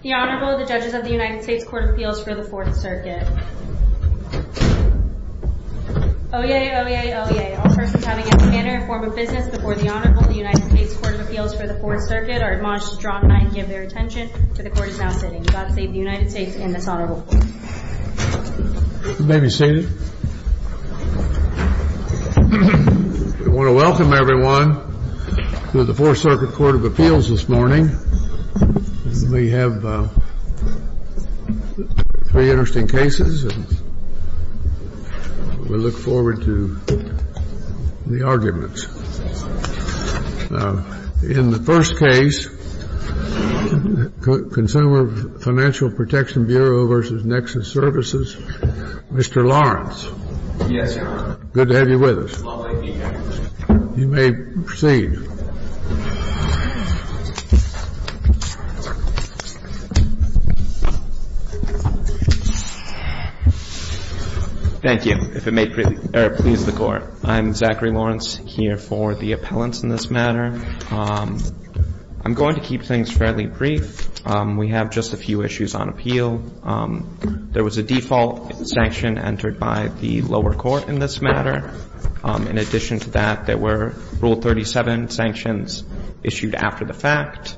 The Honorable, the Judges of the United States Court of Appeals for the Fourth Circuit. Oyez, oyez, oyez, all persons having a manner and form of business before the Honorable, the United States Court of Appeals for the Fourth Circuit, are admonished to draw to mind and give their attention to the Court as now sitting. God save the United States and this Honorable Court. You may be seated. I want to welcome everyone to the Fourth Circuit Court of Appeals this morning. We have three interesting cases, and we look forward to the arguments. In the first case, Consumer Financial Protection Bureau v. Nexus Services, Mr. Lawrence. Yes, Your Honor. Good to have you with us. You may proceed. Thank you. If it may please the Court. I'm Zachary Lawrence, here for the appellants in this matter. I'm going to keep things fairly brief. We have just a few issues on appeal. There was a default sanction entered by the lower court in this matter. In addition to that, there were Rule 37 sanctions issued after the fact.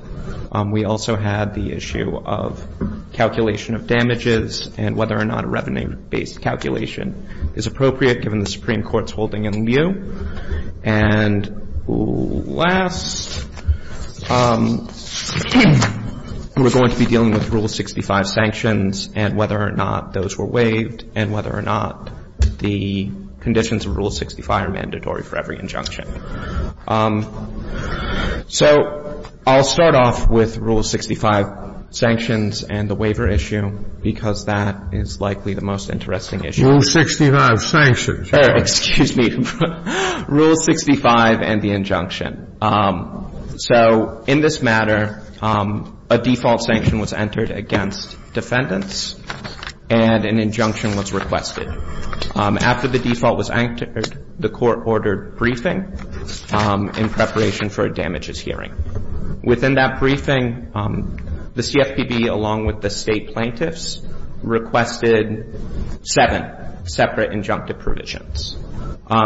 We also had the issue of calculation of damages and whether or not a revenue-based calculation is appropriate, given the Supreme Court's holding in lieu. And last, we're going to be dealing with Rule 65 sanctions and whether or not those were waived and whether or not the conditions of Rule 65 are mandatory for every injunction. So I'll start off with Rule 65 sanctions and the waiver issue, because that is likely the most interesting issue. Rule 65 sanctions. Excuse me. Rule 65 and the injunction. So in this matter, a default sanction was entered against defendants, and an injunction was requested. After the default was entered, the Court ordered briefing in preparation for a damages hearing. Within that briefing, the CFPB, along with the State plaintiffs, requested seven separate injunctive provisions.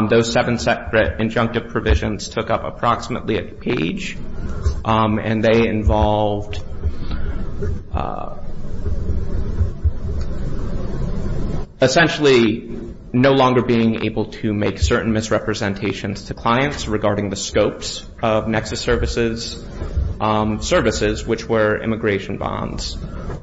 Those seven separate injunctive provisions took up approximately a page, and they involved, essentially, no longer being able to make certain misrepresentations to clients regarding the scopes of Nexus services, which were immigration bonds,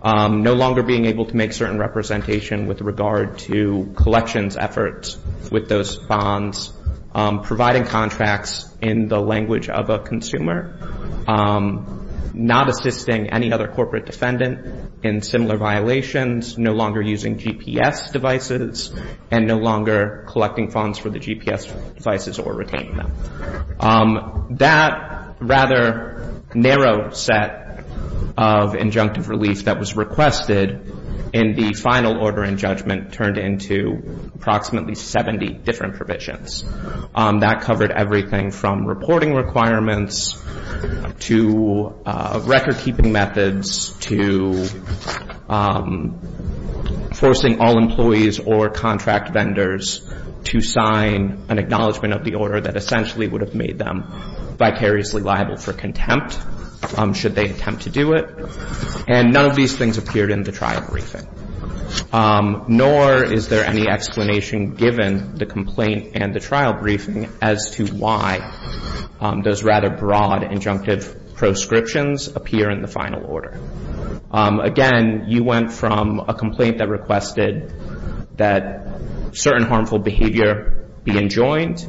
no longer being able to make certain representation with regard to collections efforts with those bonds, providing contracts in the language of a consumer, not assisting any other corporate defendant in similar violations, no longer using GPS devices, and no longer collecting funds for the GPS devices or retaining them. That rather narrow set of injunctive relief that was requested in the final order in judgment, turned into approximately 70 different provisions. That covered everything from reporting requirements to record-keeping methods to forcing all employees or contract vendors to sign an acknowledgment of the order that essentially would have made them vicariously liable for contempt, should they attempt to do it. And none of these things appeared in the trial briefing, nor is there any explanation given the complaint and the trial briefing, as to why those rather broad injunctive proscriptions appear in the final order. Again, you went from a complaint that requested that certain harmful behavior be enjoined.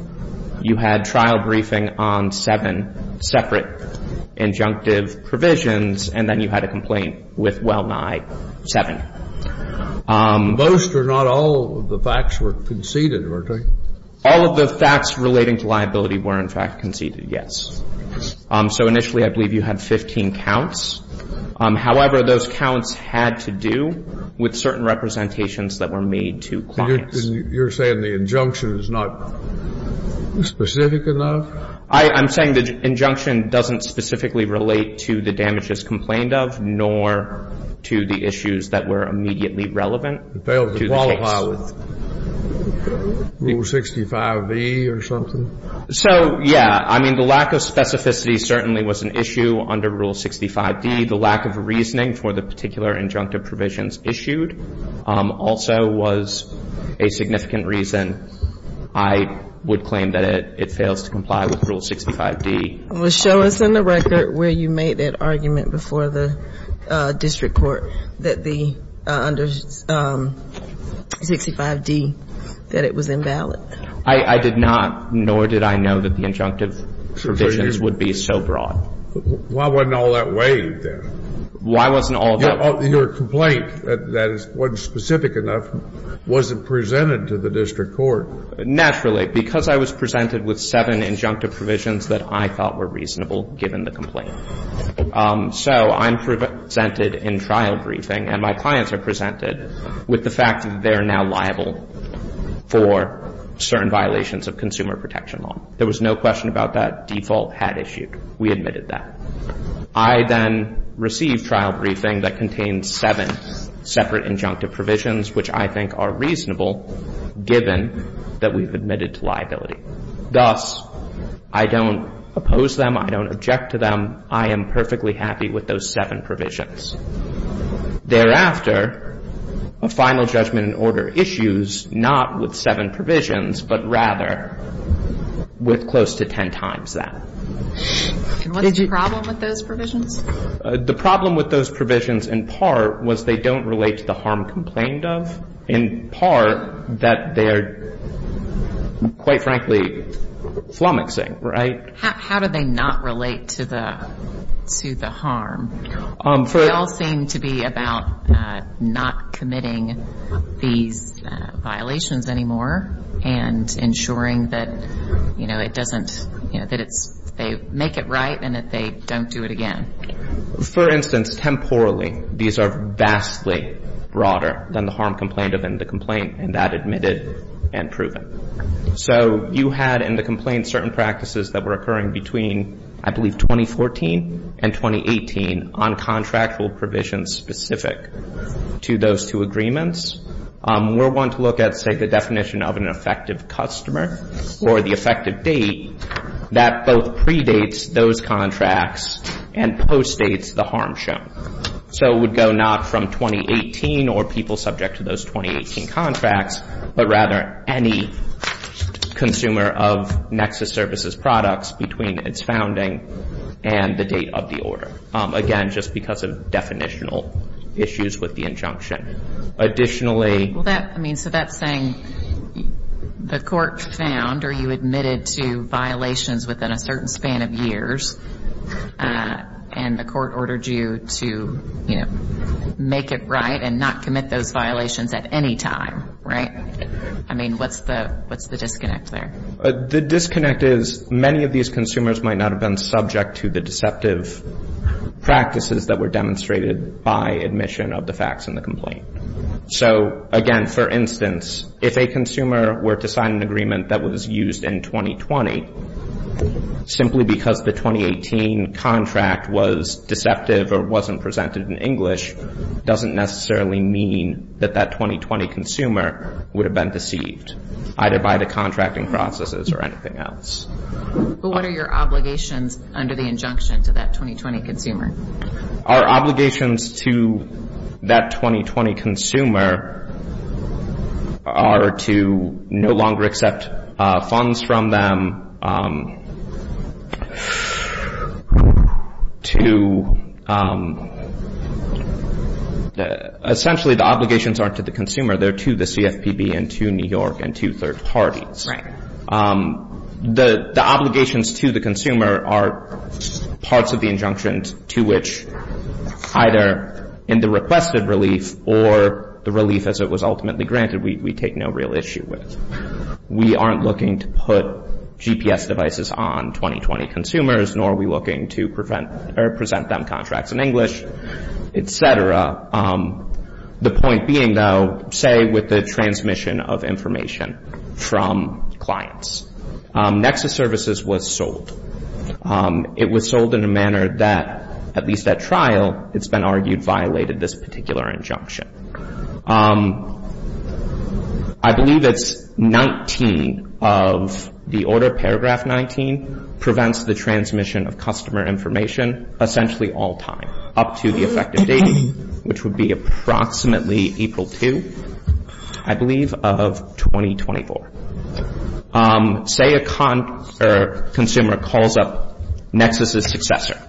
You had trial briefing on seven separate injunctive provisions, and then you had a complaint with well-nigh seven. Most or not all of the facts were conceded, weren't they? All of the facts relating to liability were, in fact, conceded, yes. So initially I believe you had 15 counts. However, those counts had to do with certain representations that were made to clients. And you're saying the injunction is not specific enough? I'm saying the injunction doesn't specifically relate to the damages complained of, nor to the issues that were immediately relevant to the case. So, yeah, I mean, the lack of specificity certainly was an issue under Rule 65D. The lack of reasoning for the particular injunctive provisions issued also was a significant reason I would claim that it fails to comply with Rule 65D. Well, show us in the record where you made that argument before the district court that the under 65D, that it was invalid. I did not, nor did I know that the injunctive provisions would be so broad. Why wasn't all that weighed then? Why wasn't all that? Your complaint that wasn't specific enough wasn't presented to the district court. Naturally, because I was presented with seven injunctive provisions that I thought were reasonable given the complaint. So I'm presented in trial briefing, and my clients are presented with the fact that they're now liable for certain violations of consumer protection law. There was no question about that default had issued. We admitted that. I then received trial briefing that contained seven separate injunctive provisions, which I think are reasonable given that we've admitted to liability. Thus, I don't oppose them. I don't object to them. I am perfectly happy with those seven provisions. Thereafter, a final judgment in order issues not with seven provisions, but rather with close to ten times that. And what's the problem with those provisions? The problem with those provisions, in part, was they don't relate to the harm complained of, in part, that they are, quite frankly, flummoxing, right? How do they not relate to the harm? They all seem to be about not committing these violations anymore and ensuring that, you know, it doesn't, you know, that they make it right and that they don't do it again. For instance, temporally, these are vastly broader than the harm complained of and the complaint, and that admitted and proven. So you had in the complaint certain practices that were occurring between, I believe, 2014 and 2018 on contractual provisions specific to those two agreements. We're wanting to look at, say, the definition of an effective customer or the effective date that both predates those contracts and postdates the harm shown. So it would go not from 2018 or people subject to those 2018 contracts, but rather any consumer of Nexus Services products between its founding and the date of the order. Again, just because of definitional issues with the injunction. Well, that, I mean, so that's saying the court found or you admitted to violations within a certain span of years and the court ordered you to, you know, make it right and not commit those violations at any time, right? I mean, what's the disconnect there? The disconnect is many of these consumers might not have been subject to the deceptive practices that were demonstrated by admission of the facts in the complaint. So, again, for instance, if a consumer were to sign an agreement that was used in 2020, simply because the 2018 contract was deceptive or wasn't presented in English doesn't necessarily mean that that 2020 consumer would have been deceived, either by the contracting processes or anything else. But what are your obligations under the injunction to that 2020 consumer? Our obligations to that 2020 consumer are to no longer accept funds from them, to essentially the obligations aren't to the consumer, they're to the CFPB and to New York and to third parties. The obligations to the consumer are parts of the injunction to which either in the requested relief or the relief as it was ultimately granted, we take no real issue with. We aren't looking to put GPS devices on 2020 consumers, nor are we looking to present them contracts in English, et cetera. The point being, though, say with the transmission of information from clients. Nexus Services was sold. It was sold in a manner that, at least at trial, it's been argued violated this particular injunction. I believe it's 19 of the order, paragraph 19, prevents the transmission of customer information essentially all time up to the effective date, which would be approximately April 2, I believe, of 2024. Say a consumer calls up Nexus's successor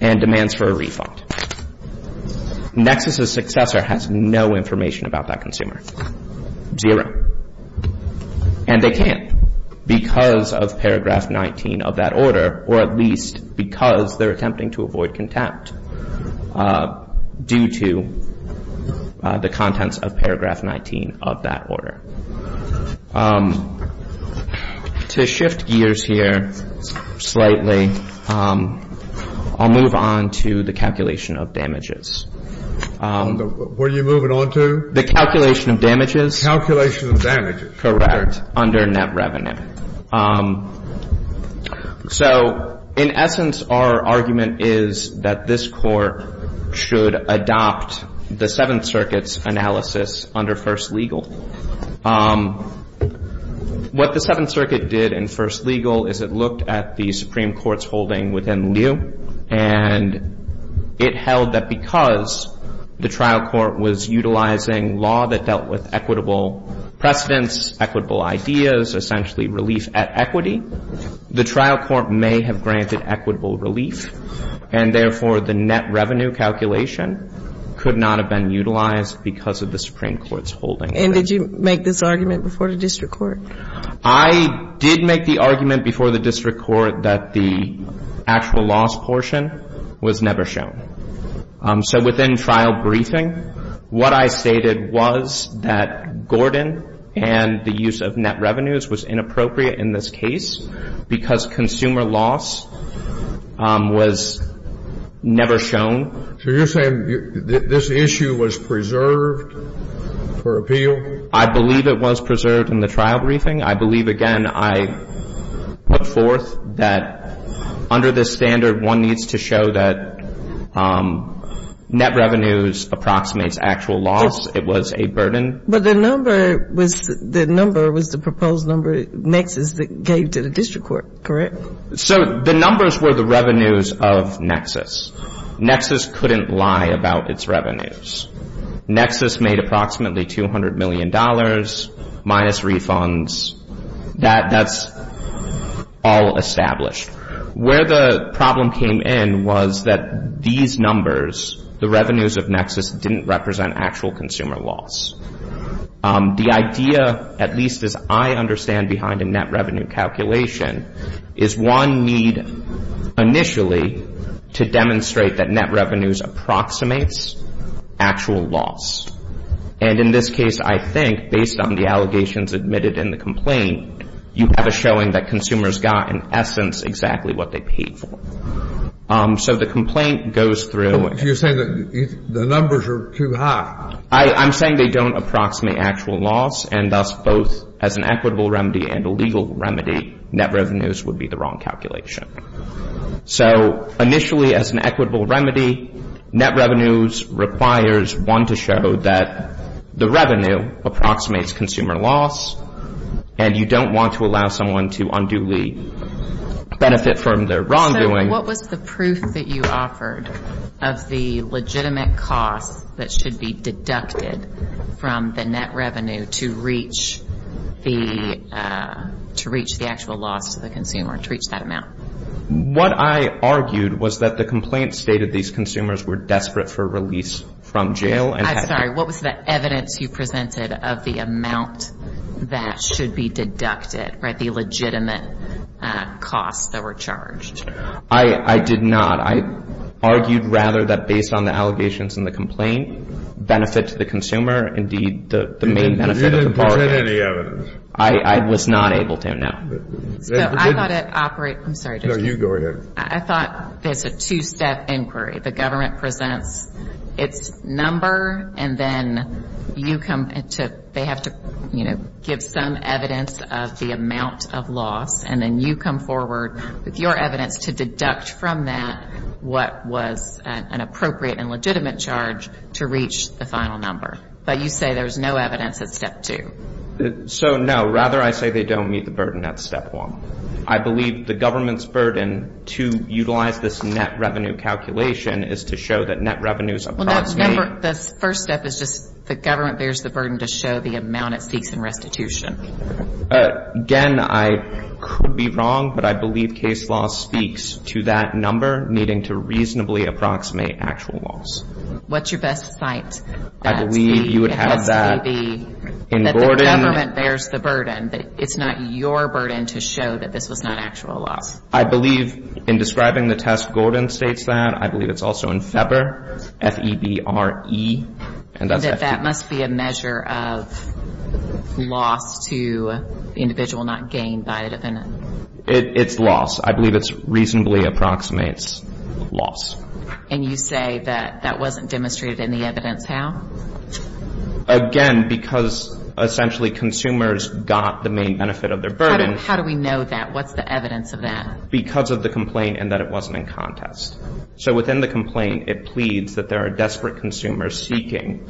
and demands for a refund. Nexus's successor has no information about that consumer, zero. And they can't because of paragraph 19 of that order, or at least because they're attempting to avoid contempt due to the contents of paragraph 19 of that order. To shift gears here slightly, I'll move on to the calculation of damages. What are you moving on to? The calculation of damages. Calculation of damages. Correct. Under net revenue. So in essence, our argument is that this Court should adopt the Seventh Circuit's analysis under first legal. What the Seventh Circuit did in first legal is it looked at the Supreme Court's holding within lieu, and it held that because the trial court was utilizing law that dealt with equitable precedents, equitable ideas, essentially relief at equity, the trial court may have granted equitable relief, and therefore the net revenue calculation could not have been utilized because of the Supreme Court's holding. And did you make this argument before the district court? I did make the argument before the district court that the actual loss portion was never shown. So within trial briefing, what I stated was that Gordon and the use of net revenues was inappropriate in this case because consumer loss was never shown. So you're saying this issue was preserved for appeal? I believe it was preserved in the trial briefing. I believe, again, I put forth that under this standard, one needs to show that net revenues approximates actual loss. It was a burden. But the number was the number was the proposed number, nexus, that gave to the district court, correct? So the numbers were the revenues of nexus. Nexus couldn't lie about its revenues. Nexus made approximately $200 million minus refunds. That's all established. Where the problem came in was that these numbers, the revenues of nexus, didn't represent actual consumer loss. The idea, at least as I understand behind a net revenue calculation, is one need initially to demonstrate that net revenues approximates actual loss. And in this case, I think, based on the allegations admitted in the complaint, you have a showing that consumers got, in essence, exactly what they paid for. So the complaint goes through. You're saying that the numbers are too high. I'm saying they don't approximate actual loss. And thus, both as an equitable remedy and a legal remedy, net revenues would be the wrong calculation. So initially, as an equitable remedy, net revenues requires one to show that the revenue approximates consumer loss. And you don't want to allow someone to unduly benefit from their wrongdoing. What was the proof that you offered of the legitimate costs that should be deducted from the net revenue to reach the actual loss to the consumer, to reach that amount? What I argued was that the complaint stated these consumers were desperate for release from jail. I'm sorry. What was the evidence you presented of the amount that should be deducted, the legitimate costs that were charged? I did not. I argued, rather, that based on the allegations in the complaint, benefit to the consumer, indeed, the main benefit of the parties. You didn't present any evidence. I was not able to, no. So I thought it operated. I'm sorry, Judge. No, you go ahead. I thought there's a two-step inquiry. The government presents its number, and then you come to they have to, you know, give some evidence of the amount of loss. And then you come forward with your evidence to deduct from that what was an appropriate and legitimate charge to reach the final number. But you say there's no evidence at step two. So, no. Rather, I say they don't meet the burden at step one. I believe the government's burden to utilize this net revenue calculation is to show that net revenues approximate. The first step is just the government bears the burden to show the amount it seeks in restitution. Again, I could be wrong, but I believe case law speaks to that number needing to reasonably approximate actual loss. What's your best site? I believe you would have that in Gordon. That the government bears the burden, that it's not your burden to show that this was not actual loss. I believe in describing the test, Gordon states that. I believe it's also in Feber, F-E-B-R-E. And that that must be a measure of loss to the individual not gained by the defendant. It's loss. I believe it reasonably approximates loss. And you say that that wasn't demonstrated in the evidence. How? Again, because essentially consumers got the main benefit of their burden. How do we know that? What's the evidence of that? Because of the complaint and that it wasn't in contest. So within the complaint, it pleads that there are desperate consumers seeking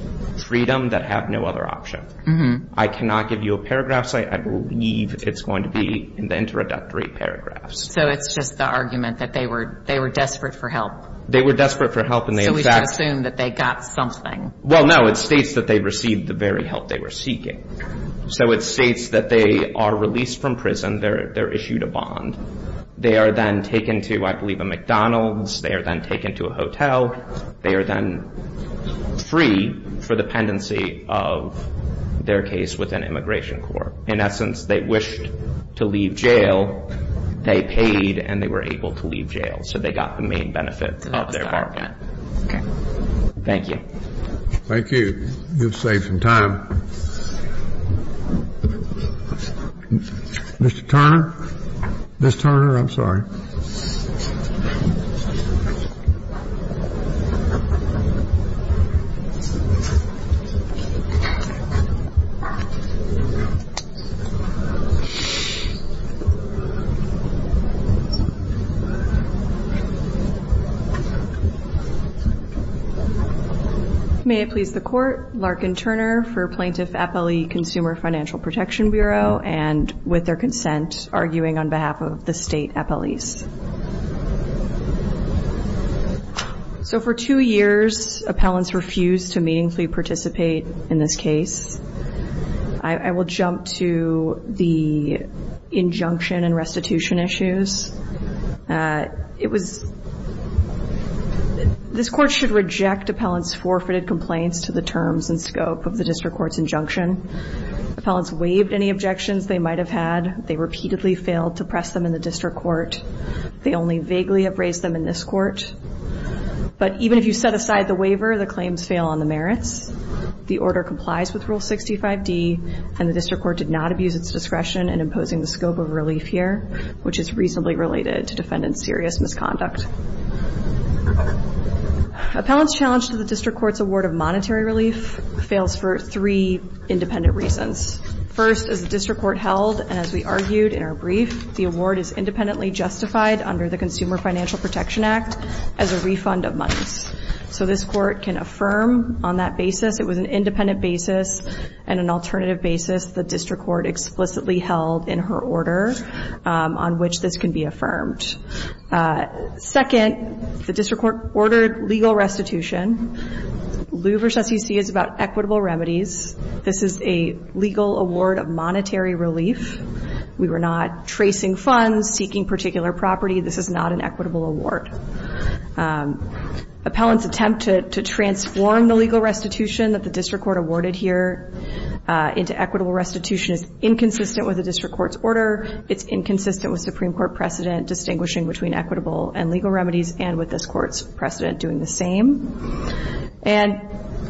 freedom that have no other option. I cannot give you a paragraph site. I believe it's going to be in the introductory paragraphs. So it's just the argument that they were desperate for help. They were desperate for help. So we should assume that they got something. Well, no. It states that they received the very help they were seeking. So it states that they are released from prison. They're issued a bond. They are then taken to, I believe, a McDonald's. They are then taken to a hotel. They are then free for dependency of their case with an immigration court. In essence, they wished to leave jail. They paid and they were able to leave jail. So they got the main benefit of their bargain. Okay. Thank you. Thank you. You've saved some time. Mr. Turner. Ms. Turner, I'm sorry. May it please the Court. Larkin Turner for Plaintiff Appellee Consumer Financial Protection Bureau and with their consent, arguing on behalf of the State Appellees. So for two years, appellants refused to meaningfully participate in this case. I will jump to the injunction and restitution issues. This Court should reject appellants' forfeited complaints to the terms and scope of the district court's injunction. Appellants waived any objections they might have had. They repeatedly failed to press them in the district court. They only vaguely have raised them in this court. But even if you set aside the waiver, the claims fail on the merits. The order complies with Rule 65D, and the district court did not abuse its discretion in imposing the scope of relief here, which is reasonably related to defendant's serious misconduct. Appellants' challenge to the district court's award of monetary relief fails for three independent reasons. First, as the district court held, and as we argued in our brief, the award is independently justified under the Consumer Financial Protection Act as a refund of monies. So this court can affirm on that basis, it was an independent basis and an alternative basis the district court explicitly held in her order on which this can be affirmed. Second, the district court ordered legal restitution. Lieu v. SEC is about equitable remedies. This is a legal award of monetary relief. We were not tracing funds, seeking particular property. This is not an equitable award. Appellants' attempt to transform the legal restitution that the district court awarded here into equitable restitution is inconsistent with the district court's order. It's inconsistent with Supreme Court precedent distinguishing between equitable and legal remedies and with this court's precedent doing the same. And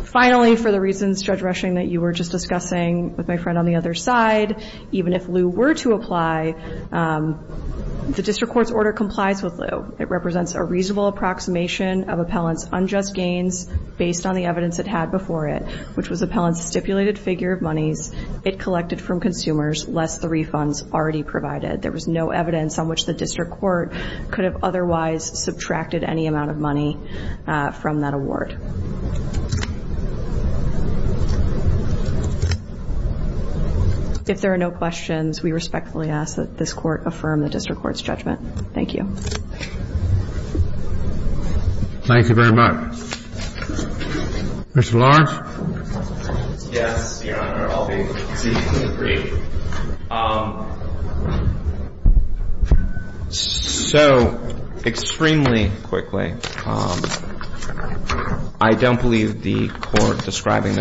finally, for the reasons, Judge Rushing, that you were just discussing with my friend on the other side, even if Lieu were to apply, the district court's order complies with Lieu. It represents a reasonable approximation of appellants' unjust gains based on the evidence it had before it, which was appellants' stipulated figure of monies it collected from consumers lest the refunds already provided. There was no evidence on which the district court could have otherwise subtracted any amount of money from that award. Thank you. If there are no questions, we respectfully ask that this court affirm the district court's judgment. Thank you. Thank you very much. Mr. Lawrence? Yes, Your Honor. I'll be brief. So extremely quickly, I don't believe the court describing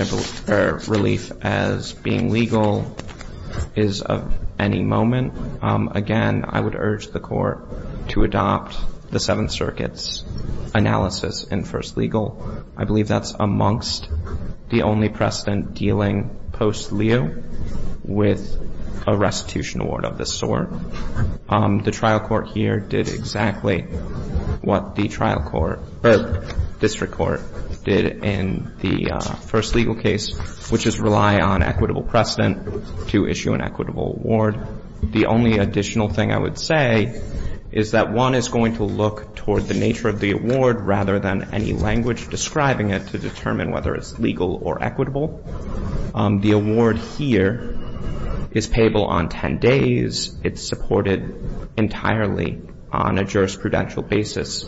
their relief as being legal is of any moment. Again, I would urge the court to adopt the Seventh Circuit's analysis in first legal. I believe that's amongst the only precedent dealing post-Lieu with a restitution award of this sort. The trial court here did exactly what the district court did in the first legal case, which is rely on equitable precedent to issue an equitable award. The only additional thing I would say is that one is going to look toward the nature of the award rather than any language describing it to determine whether it's legal or equitable. The award here is payable on 10 days. It's supported entirely on a jurisprudential basis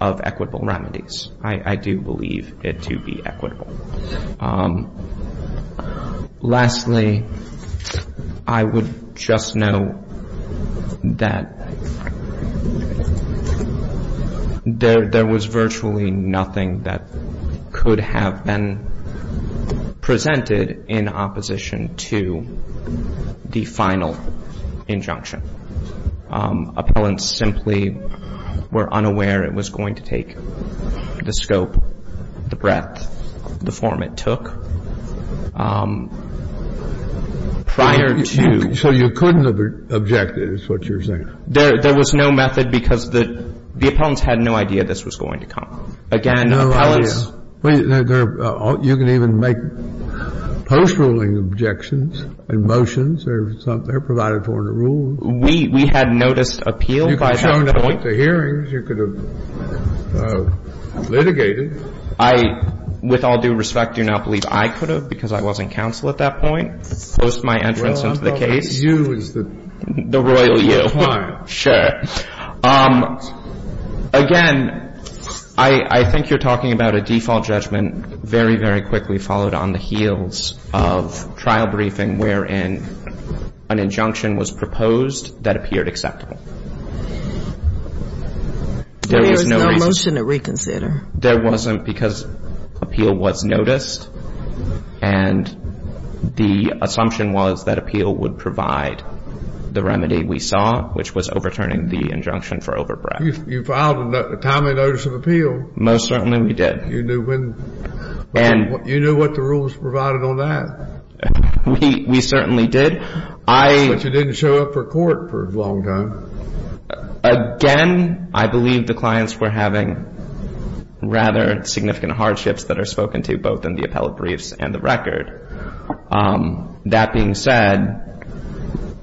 of equitable remedies. I do believe it to be equitable. Lastly, I would just know that there was virtually nothing that could have been presented in opposition to the final injunction. Appellants simply were unaware it was going to take the scope, the breadth, the form it took prior to. So you couldn't have objected is what you're saying? There was no method because the appellants had no idea this was going to come. Again, appellants. Well, you can even make post-ruling objections and motions or something. They're provided for in a rule. We had noticed appeal by that point. You could have shown at the hearings. You could have litigated. I, with all due respect, do not believe I could have because I wasn't counsel at that point, post my entrance into the case. Well, I'm talking to you as the client. The royal you. Sure. Again, I think you're talking about a default judgment very, very quickly followed on the heels of trial briefing wherein an injunction was proposed that appeared acceptable. There was no motion to reconsider. There wasn't because appeal was noticed, and the assumption was that appeal would provide the remedy we saw, which was overturning the injunction for overbreadth. You filed a timely notice of appeal. Most certainly we did. You knew when and you knew what the rules provided on that. We certainly did. But you didn't show up for court for a long time. Again, I believe the clients were having rather significant hardships that are spoken to both in the appellate briefs and the record. That being said,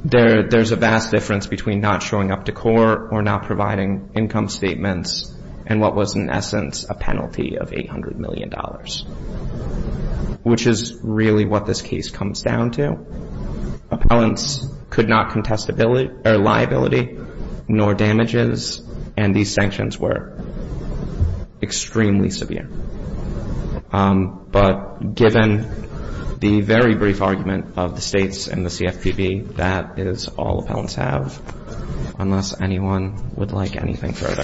there's a vast difference between not showing up to court or not providing income statements and what was in essence a penalty of $800 million, which is really what this case comes down to. Appellants could not contest liability nor damages, and these sanctions were extremely severe. But given the very brief argument of the States and the CFPB, that is all appellants have unless anyone would like anything further.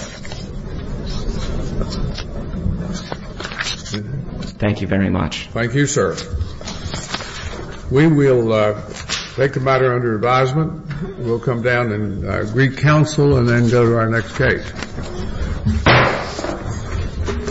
Thank you very much. Thank you, sir. We will take the matter under advisement. We'll come down and re-counsel and then go to our next case.